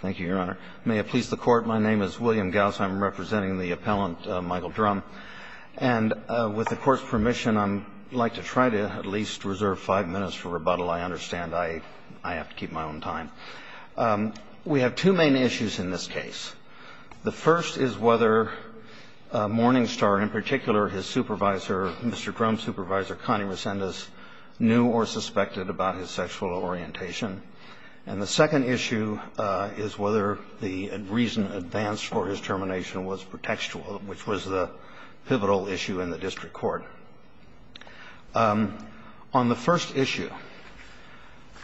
Thank you, Your Honor. May it please the Court, my name is William Gauss. I'm representing the appellant, Michael Drumm. And with the Court's permission, I'd like to try to at least reserve five minutes for rebuttal. I understand I have to keep my own time. We have two main issues in this case. The first is whether Morningstar, in particular his supervisor, Mr. Drumm's supervisor, Connie Resendez, knew or suspected about his sexual orientation. And the second issue is whether the reason advanced for his termination was pretextual, which was the pivotal issue in the district court. On the first issue,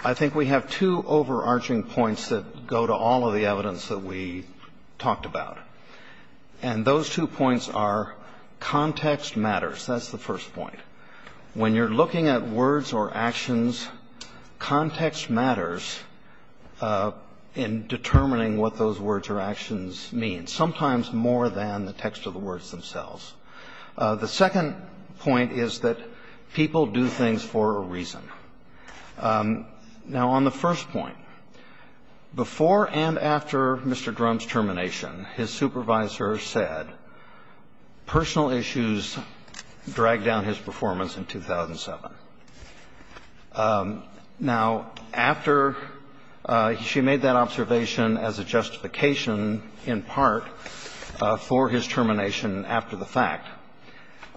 I think we have two overarching points that go to all of the evidence that we have. One is that words or actions, context matters in determining what those words or actions mean, sometimes more than the text of the words themselves. The second point is that people do things for a reason. Now, on the first point, before and after Mr. Drumm's termination, his supervisor said personal issues dragged down his performance in 2007. Now, after she made that observation as a justification, in part, for his termination after the fact,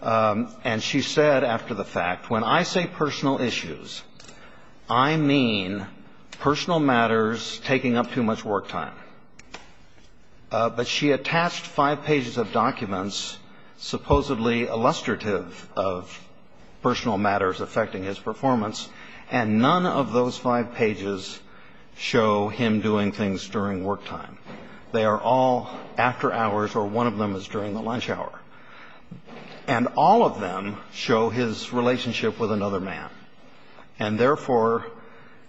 and she said after the fact, when I say personal issues, I mean personal matters taking up too much work time. But she attached five pages of documents supposedly illustrative of personal matters affecting his performance, and none of those five pages show him doing things during work time. They are all after hours, or one of them is during the lunch hour. And all of them show his relationship with another man. And therefore,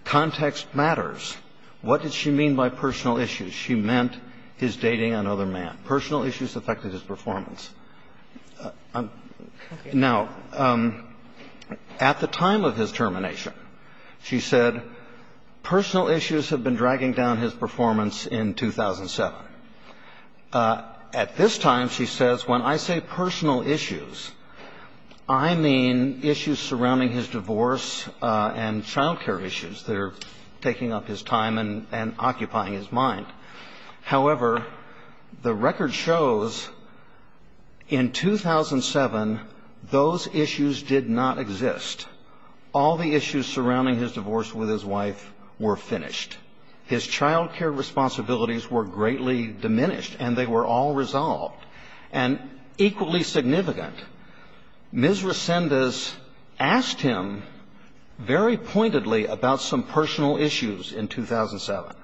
context matters. What did she mean by personal issues? She meant his dating another man. Personal issues affected his performance. Now, at the time of his termination, she said personal issues have been dragging down his performance in 2007. At this time, she says, when I say personal issues, I mean issues surrounding his divorce and child care issues that are taking up his time and occupying his mind. However, the record shows in 2007, those issues did not exist. All the issues surrounding his divorce with his wife were finished. His child care responsibilities were greatly diminished, and they were all resolved. And equally significant, Ms. Resendez asked him very pointedly about some personal issues in 2007,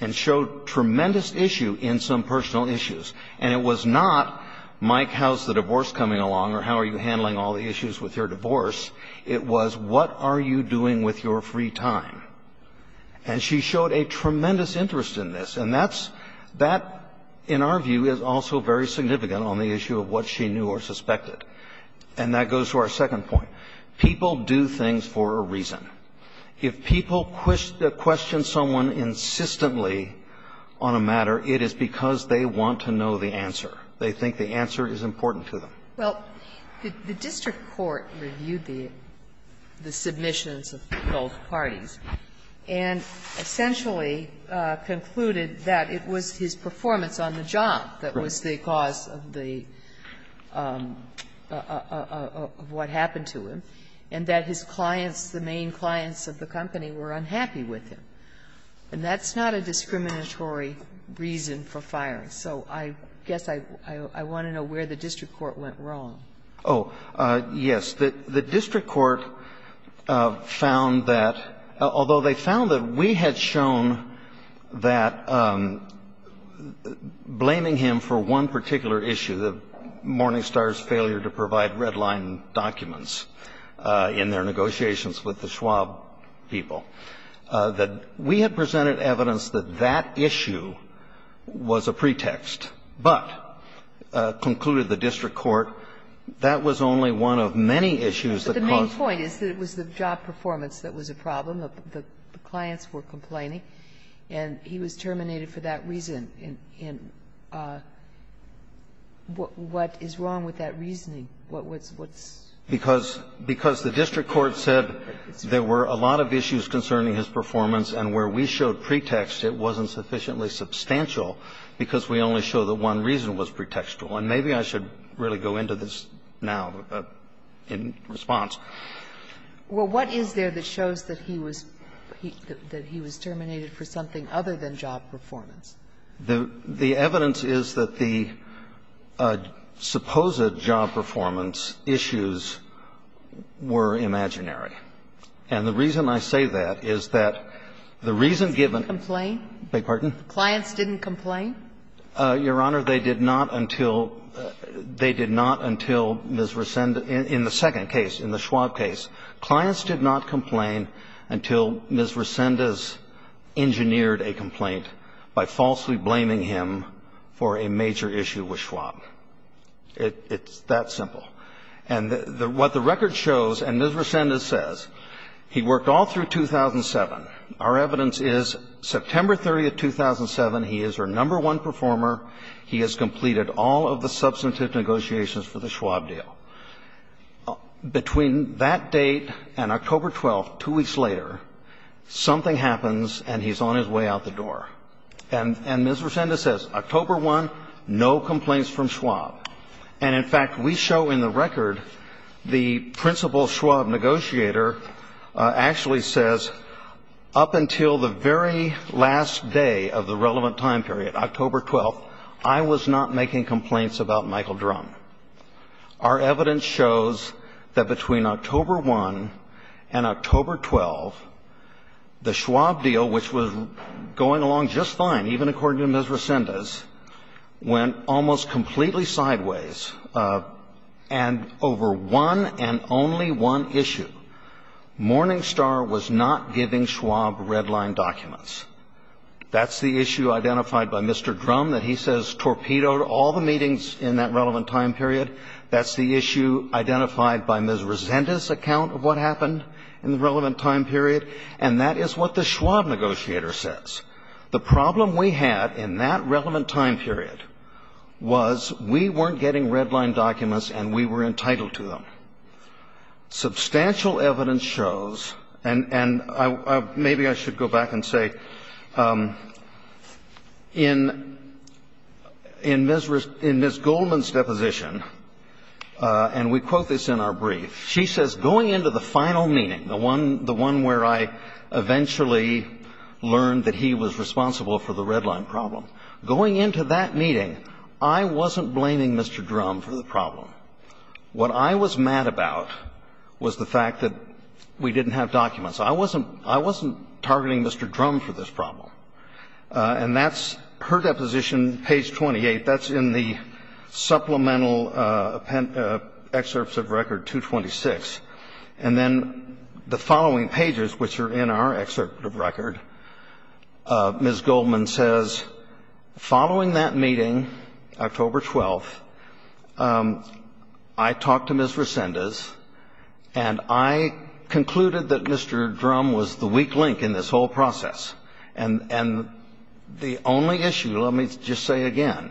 and showed tremendous issue in some personal issues. And it was not, Mike, how's the divorce coming along, or how are you handling all the issues with your divorce? It was, what are you doing with your free time? And she showed a tremendous interest in this. And that's that, in our view, is also very significant on the issue of what she knew or suspected. And that goes to our second point. People do things for a reason. If people question someone insistently on a matter, it is because they want to know the answer. They think the answer is important to them. Well, the district court reviewed the submissions of both parties and essentially concluded that it was his performance on the job that was the cause of the, of what happened to him, and that his clients, the main clients of the company, were unhappy with him. And that's not a discriminatory reason for firing. So I guess I want to know where the district court went wrong. Oh, yes. The district court found that, although they found that we had shown that blaming him for one particular issue, the Morningstar's failure to provide red-line documents in their negotiations with the Schwab people, that we had presented evidence that that issue was a pretext, but concluded the district court that was only one of many issues that caused the problem. But the main point is that it was the job performance that was a problem, that the clients were complaining, and he was terminated for that reason. And what is wrong with that reasoning? What's the problem? Because the district court said there were a lot of issues concerning his performance, and where we showed pretext, it wasn't sufficiently substantial because we only show that one reason was pretextual. And maybe I should really go into this now in response. Well, what is there that shows that he was terminated for something other than job performance? The evidence is that the supposed job performance issues were imaginary. And the reason I say that is that the reason given the clients didn't complain. Your Honor, they did not until Ms. Resendez in the second case, in the Schwab case, clients did not complain until Ms. Resendez engineered a complaint by falsely blaming him for a major issue with Schwab. It's that simple. And what the record shows, and Ms. Resendez says, he worked all through 2007. Our evidence is September 30th, 2007, he is our number one performer. He has completed all of the substantive negotiations for the Schwab deal. Between that date and October 12th, two weeks later, something happens and he's on his way out the door. And Ms. Resendez says, October 1, no complaints from Schwab. And, in fact, we show in the record the principal Schwab negotiator actually says, up until the very last day of the relevant time period, October 12th, I was not making complaints about Michael Drumm. Our evidence shows that between October 1 and October 12, the Schwab deal, which was going along just fine, even according to Ms. Resendez, went almost completely sideways, and over one and only one issue, Morningstar was not giving Schwab red line documents. That's the issue identified by Mr. Drumm that he says torpedoed all the meetings in that relevant time period. That's the issue identified by Ms. Resendez's account of what happened in the relevant time period. And that is what the Schwab negotiator says. The problem we had in that relevant time period was we weren't getting red line documents and we were entitled to them. Substantial evidence shows, and maybe I should go back and say, in Ms. Goldman's deposition, and we quote this in our brief, she says, going into the final meeting, the one where I eventually learned that he was responsible for the red line problem, going into that meeting, I wasn't blaming Mr. Drumm for the problem. What I was mad about was the fact that we didn't have documents. I wasn't – I wasn't targeting Mr. Drumm for this problem. And that's her deposition, page 28. That's in the supplemental excerpts of record 226. And then the following pages, which are in our excerpt of record, Ms. Goldman says, following that meeting, October 12th, I talked to Ms. Resendez, and I concluded that Mr. Drumm was the weak link in this whole process. And the only issue, let me just say again,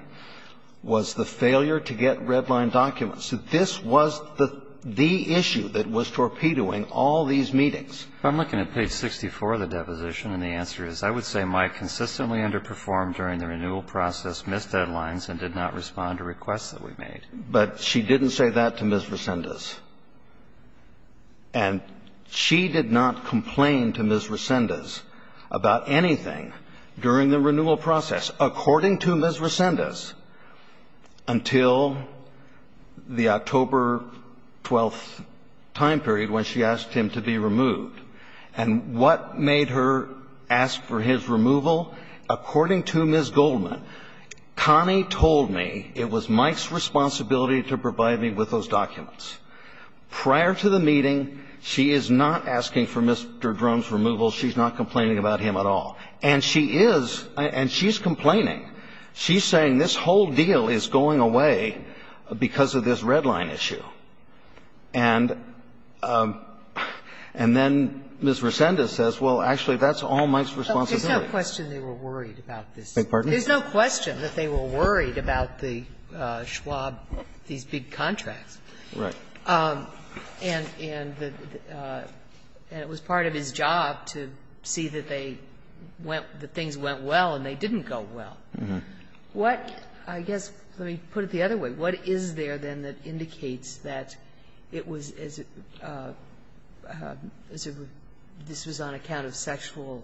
was the failure to get red line documents. This was the issue that was torpedoing all these meetings. I'm looking at page 64 of the deposition, and the answer is, I would say, Mike, consistently underperformed during the renewal process, missed deadlines, and did not respond to requests that we made. But she didn't say that to Ms. Resendez. And she did not complain to Ms. Resendez about anything during the renewal process, according to Ms. Resendez, until the October 12th time period, when she asked him to be removed. And what made her ask for his removal? According to Ms. Goldman, Connie told me it was Mike's responsibility to provide me with those documents. Prior to the meeting, she is not asking for Mr. Drumm's removal. She's not complaining about him at all. And she is, and she's complaining. She's saying this whole deal is going away because of this red line issue. And then Ms. Resendez says, well, actually, that's all Mike's responsibility. There's no question they were worried about this. I beg your pardon? There's no question that they were worried about the Schwab, these big contracts. Right. And it was part of his job to see that they went, that things went well and they didn't go well. Mm-hmm. What, I guess, let me put it the other way, what is there, then, that indicates that it was as if this was on account of sexual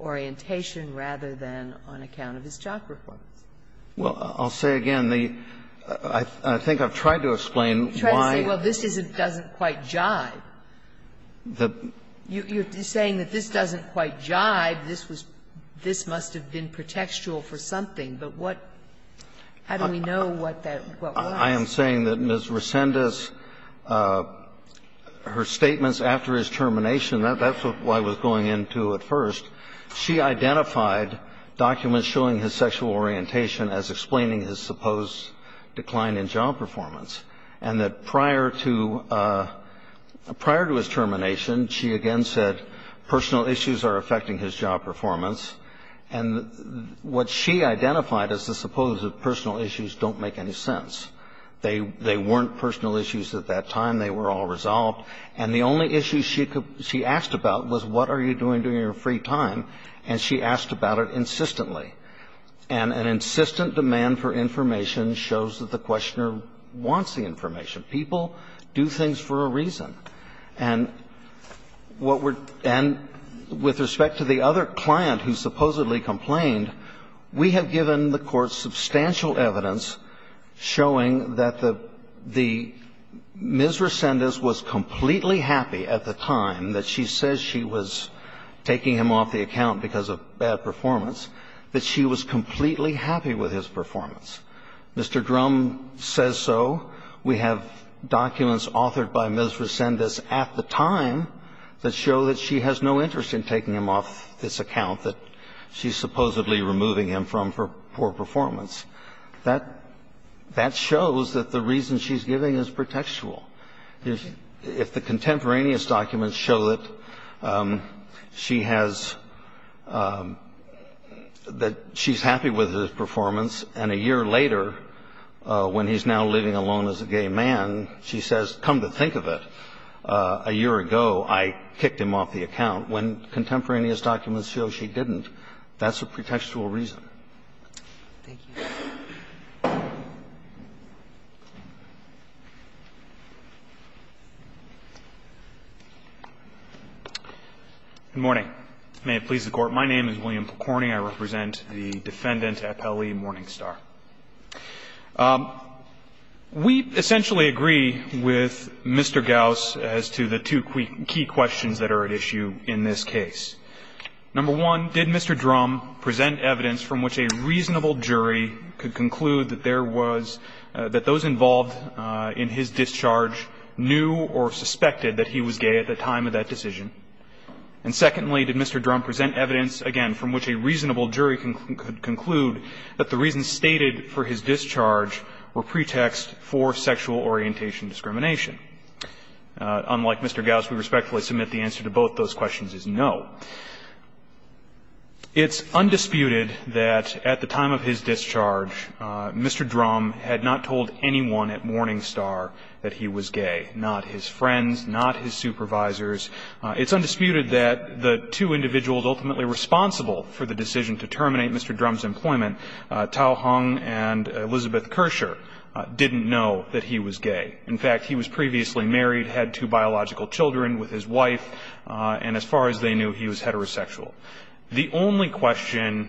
orientation rather than on account of his job performance? Well, I'll say again. I think I've tried to explain why. You've tried to say, well, this doesn't quite jibe. The ---- I'm not saying that it's contextual for something, but what ---- how do we know what that, what was? I am saying that Ms. Resendez, her statements after his termination, that's what I was going into at first. She identified documents showing his sexual orientation as explaining his supposed decline in job performance, and that prior to, prior to his termination, she again said personal issues are affecting his job performance. And what she identified as the supposed personal issues don't make any sense. They weren't personal issues at that time. They were all resolved. And the only issue she asked about was what are you doing during your free time, and she asked about it insistently. And an insistent demand for information shows that the questioner wants the information. People do things for a reason. And what we're ---- and with respect to the other client who supposedly complained, we have given the Court substantial evidence showing that the ---- the Ms. Resendez was completely happy at the time that she says she was taking him off the account because of bad performance, that she was completely happy with his performance. Mr. Drum says so. We have documents authored by Ms. Resendez at the time that show that she has no interest in taking him off this account that she's supposedly removing him from for poor performance. That ---- that shows that the reason she's giving is pretextual. If the contemporaneous documents show that she has ---- that she's happy with his performance, and a year later, when he's now living alone as a gay man, she says, come to think of it, a year ago I kicked him off the account, when contemporaneous documents show she didn't, that's a pretextual reason. Good morning. May it please the Court. My name is William Percorning. I represent the Defendant Appellee Morningstar. We essentially agree with Mr. Gauss as to the two key questions that are at issue in this case. Number one, did Mr. Drum present evidence from which a reasonable jury could conclude that there was ---- that those involved in his discharge knew or suspected that he was gay at the time of that decision? And secondly, did Mr. Drum present evidence, again, from which a reasonable jury could conclude that the reasons stated for his discharge were pretext for sexual orientation discrimination? Unlike Mr. Gauss, we respectfully submit the answer to both those questions is no. It's undisputed that at the time of his discharge, Mr. Drum had not told anyone at Morningstar that he was gay, not his friends, not his supervisors. It's undisputed that the two individuals ultimately responsible for the decision to terminate Mr. Drum's employment, Tao Hung and Elizabeth Kersher, didn't know that he was gay. In fact, he was previously married, had two biological children with his wife, and as far as they knew, he was heterosexual. The only question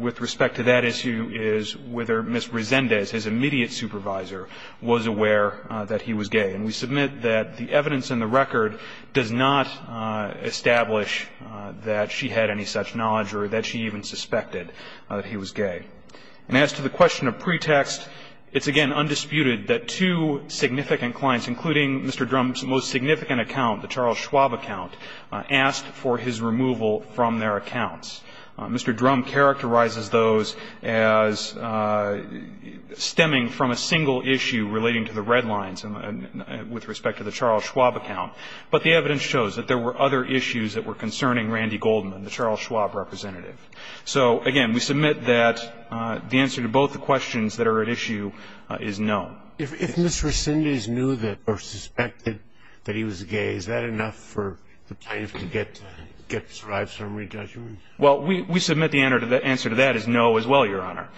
with respect to that issue is whether Ms. Resendez, his immediate supervisor, was aware that he was gay. And we submit that the evidence in the record does not establish that she had any such knowledge or that she even suspected that he was gay. And as to the question of pretext, it's, again, undisputed that two significant clients, including Mr. Drum's most significant account, the Charles Schwab account, asked for his removal from their accounts. Mr. Drum characterizes those as stemming from a single issue relating to the red line with respect to the Charles Schwab account. But the evidence shows that there were other issues that were concerning Randy Goldman, the Charles Schwab representative. So, again, we submit that the answer to both the questions that are at issue is no. If Ms. Resendez knew or suspected that he was gay, is that enough for the plaintiffs to get a survivor summary judgment? Well, we submit the answer to that is no as well, Your Honor.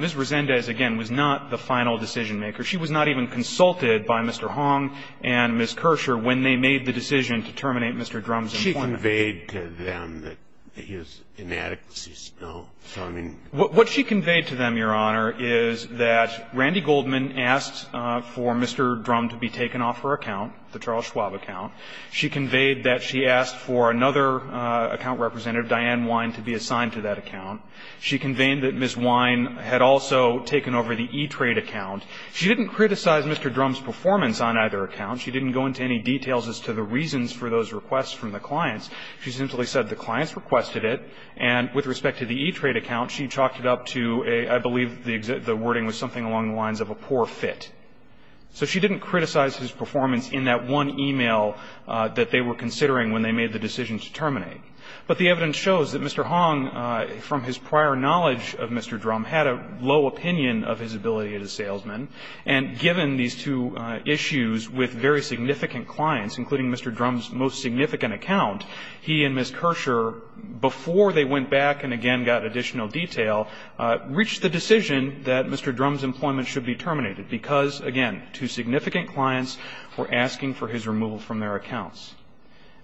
Ms. Resendez, again, was not the final decision maker. She was not even consulted by Mr. Hong and Ms. Kersher when they made the decision to terminate Mr. Drum's employment. She conveyed to them that his inadequacies, no? So, I mean. What she conveyed to them, Your Honor, is that Randy Goldman asked for Mr. Drum to be taken off her account, the Charles Schwab account. She conveyed that she asked for another account representative, Diane Wine, to be assigned to that account. She conveyed that Ms. Wine had also taken over the E-Trade account. She didn't criticize Mr. Drum's performance on either account. She didn't go into any details as to the reasons for those requests from the clients. She simply said the clients requested it. And with respect to the E-Trade account, she chalked it up to a, I believe the wording was something along the lines of a poor fit. So she didn't criticize his performance in that one e-mail that they were considering when they made the decision to terminate. But the evidence shows that Mr. Hong, from his prior knowledge of Mr. Drum, had a low opinion of his ability as a salesman. And given these two issues with very significant clients, including Mr. Drum's most significant account, he and Ms. Kirscher, before they went back and again got additional detail, reached the decision that Mr. Drum's employment should be terminated, because, again, two significant clients were asking for his removal from their accounts.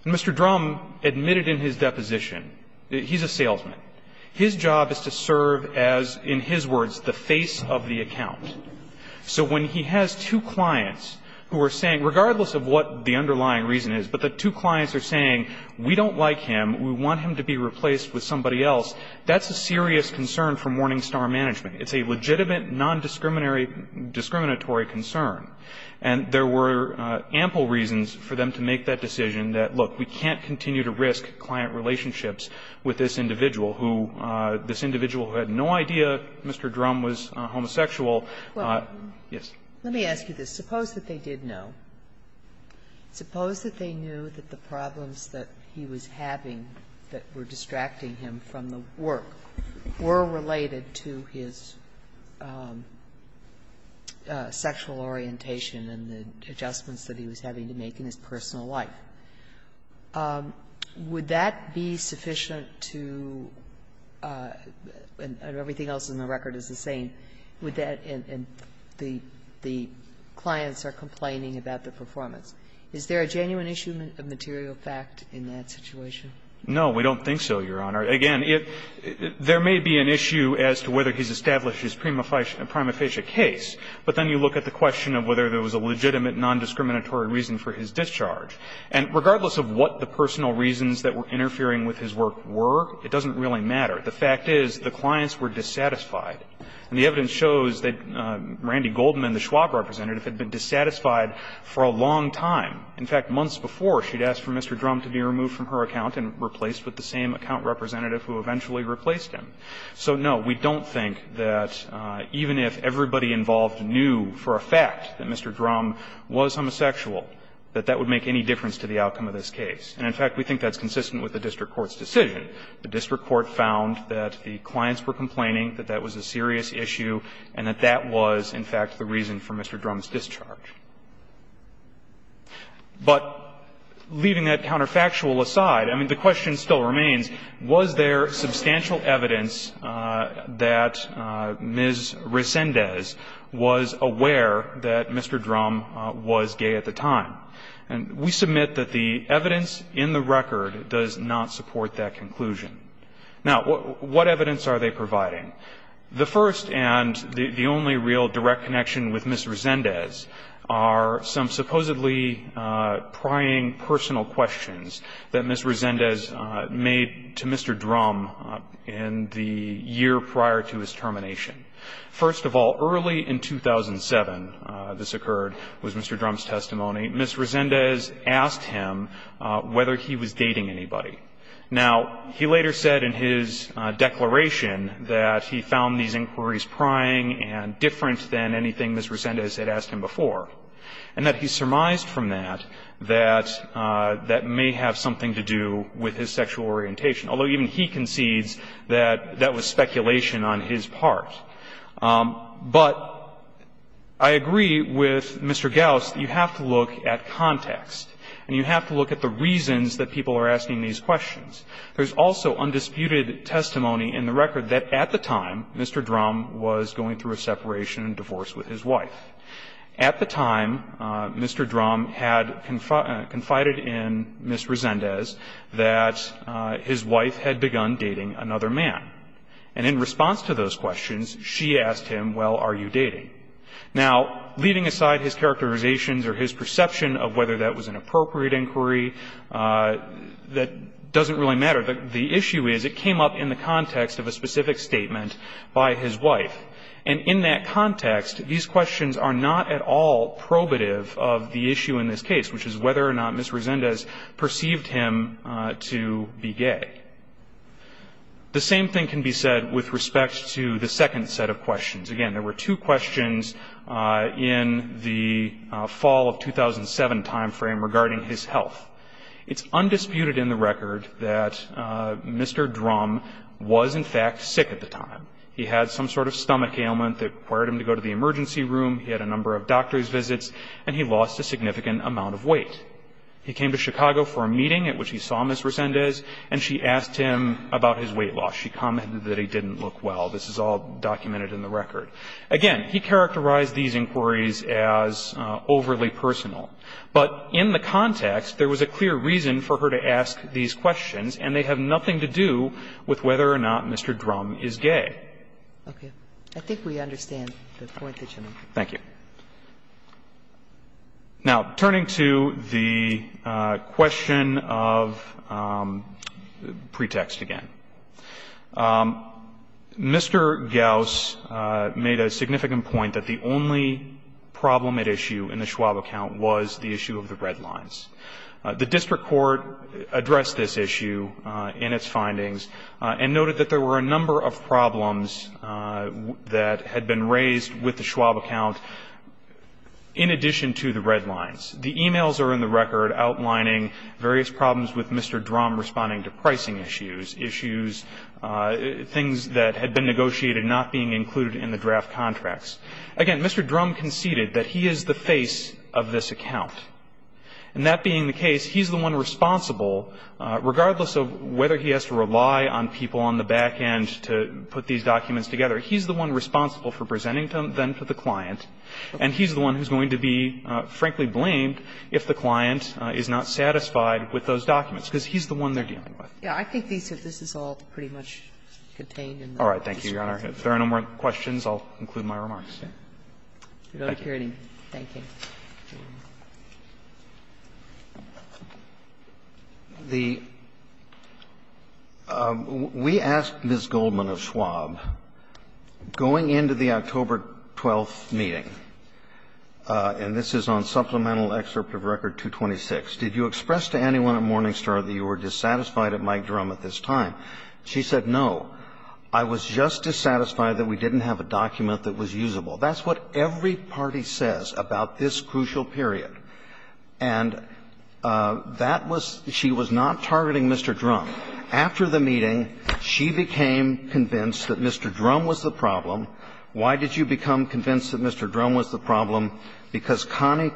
And Mr. Drum admitted in his deposition that he's a salesman. His job is to serve as, in his words, the face of the account. So when he has two clients who are saying, regardless of what the underlying reason is, but the two clients are saying, we don't like him, we want him to be replaced with somebody else, that's a serious concern for Morningstar Management. It's a legitimate, non-discriminatory concern. And there were ample reasons for them to make that decision that, look, we can't continue to risk client relationships with this individual who, this individual who had no idea Mr. Drum was homosexual. Yes. Sotomayor Let me ask you this. Suppose that they did know. Suppose that they knew that the problems that he was having, that were distracting him from the work, were related to his sexual orientation and the adjustments that he was having to make in his personal life. Would that be sufficient to, and everything else in the record is the same, would that, and the clients are complaining about the performance. Is there a genuine issue of material fact in that situation? No, we don't think so, Your Honor. Again, there may be an issue as to whether he's established his prima facie case, but then you look at the question of whether there was a legitimate, non-discriminatory reason for his discharge. And regardless of what the personal reasons that were interfering with his work were, it doesn't really matter. The fact is, the clients were dissatisfied. And the evidence shows that Randy Goldman, the Schwab representative, had been dissatisfied for a long time. In fact, months before, she'd asked for Mr. Drum to be removed from her account and replaced with the same account representative who eventually replaced him. So, no, we don't think that even if everybody involved knew for a fact that Mr. Drum was homosexual, that that would make any difference to the outcome of this case. And, in fact, we think that's consistent with the district court's decision. The district court found that the clients were complaining, that that was a serious issue, and that that was, in fact, the reason for Mr. Drum's discharge. But leaving that counterfactual aside, I mean, the question still remains, was there at the time. And we submit that the evidence in the record does not support that conclusion. Now, what evidence are they providing? The first and the only real direct connection with Ms. Resendez are some supposedly prying personal questions that Ms. Resendez made to Mr. Drum in the year prior to his termination. First of all, early in 2007, this occurred, was Mr. Drum's testimony, Ms. Resendez asked him whether he was dating anybody. Now, he later said in his declaration that he found these inquiries prying and different than anything Ms. Resendez had asked him before, and that he surmised from that that may have something to do with his sexual orientation, although even he concedes that that was speculation on his part. But I agree with Mr. Gauss that you have to look at context and you have to look at the reasons that people are asking these questions. There's also undisputed testimony in the record that at the time, Mr. Drum was going through a separation and divorce with his wife. At the time, Mr. Drum had confided in Ms. Resendez that his wife had begun dating another man. And in response to those questions, she asked him, well, are you dating? Now, leaving aside his characterizations or his perception of whether that was an appropriate inquiry, that doesn't really matter. The issue is it came up in the context of a specific statement by his wife. And in that context, these questions are not at all probative of the issue in this case, which is whether or not Ms. Resendez perceived him to be gay. The same thing can be said with respect to the second set of questions. Again, there were two questions in the fall of 2007 time frame regarding his health. It's undisputed in the record that Mr. Drum was, in fact, sick at the time. He had some sort of stomach ailment that required him to go to the emergency room, he had a number of doctor's visits, and he lost a significant amount of weight. He came to Chicago for a meeting at which he saw Ms. Resendez, and she asked him about his weight loss. She commented that he didn't look well. This is all documented in the record. Again, he characterized these inquiries as overly personal. But in the context, there was a clear reason for her to ask these questions, and they have nothing to do with whether or not Mr. Drum is gay. Sotomayor, I think we understand the point that you make. Thank you. Now, turning to the question of pretext again. Mr. Gauss made a significant point that the only problem at issue in the Schwab account was the issue of the red lines. The district court addressed this issue in its findings and noted that there were a number of problems that had been raised with the Schwab account in addition to the red lines. The emails are in the record outlining various problems with Mr. Drum responding to pricing issues, issues, things that had been negotiated not being included in the draft contracts. Again, Mr. Drum conceded that he is the face of this account. And that being the case, he's the one responsible, regardless of whether he has to rely on people on the back end to put these documents together, he's the one responsible for presenting them then to the client, and he's the one who's going to be, frankly, blamed if the client is not satisfied with those documents, because he's the one they're dealing with. Yeah, I think these are all pretty much contained in the district court. All right, thank you, Your Honor. If there are no more questions, I'll conclude my remarks. Thank you. Thank you. The we asked Ms. Goldman of Schwab, going into the October 12th meeting, and this is on supplemental excerpt of record 226, did you express to anyone at Morningstar that you were dissatisfied at Mike Drum at this time? She said, no, I was just dissatisfied that we didn't have a document that was usable. That's what every party says about this crucial period. And that was she was not targeting Mr. Drum. After the meeting, she became convinced that Mr. Drum was the problem. Why did you become convinced that Mr. Drum was the problem? Because Connie,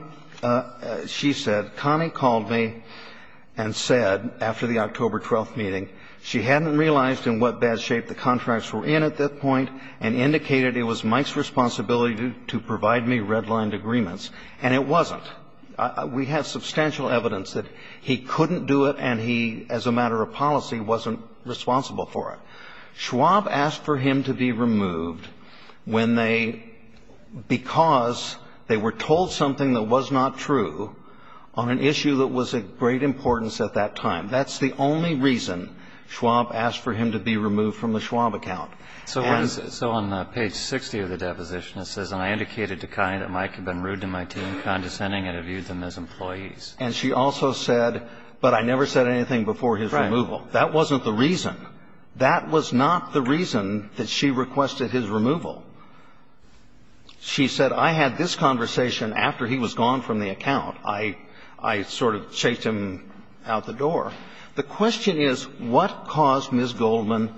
she said, Connie called me and said, after the October 12th meeting, she hadn't realized in what bad shape the contracts were in at that point and indicated it was Mike's responsibility to provide me redlined agreements. And it wasn't. We have substantial evidence that he couldn't do it and he, as a matter of policy, wasn't responsible for it. Schwab asked for him to be removed when they, because they were told something that was not true on an issue that was of great importance at that time. That's the only reason Schwab asked for him to be removed from the Schwab account. And so on page 60 of the deposition, it says, And I indicated to Connie that Mike had been rude to my team, condescending, and had viewed them as employees. And she also said, but I never said anything before his removal. Right. That wasn't the reason. That was not the reason that she requested his removal. She said, I had this conversation after he was gone from the account. I sort of chased him out the door. The question is, what caused Ms. Goldman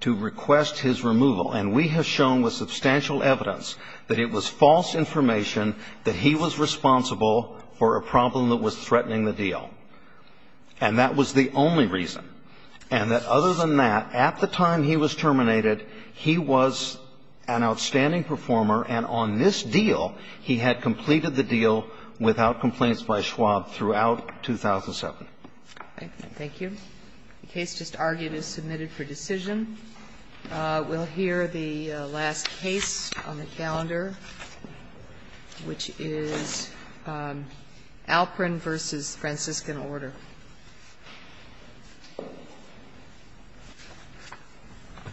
to request his removal? And we have shown with substantial evidence that it was false information, that he was responsible for a problem that was threatening the deal. And that was the only reason. And that other than that, at the time he was terminated, he was an outstanding performer, and on this deal, he had completed the deal without complaints by Schwab throughout 2007. Thank you. The case just argued is submitted for decision. We'll hear the last case on the calendar, which is Alperin v. Franciscan Order.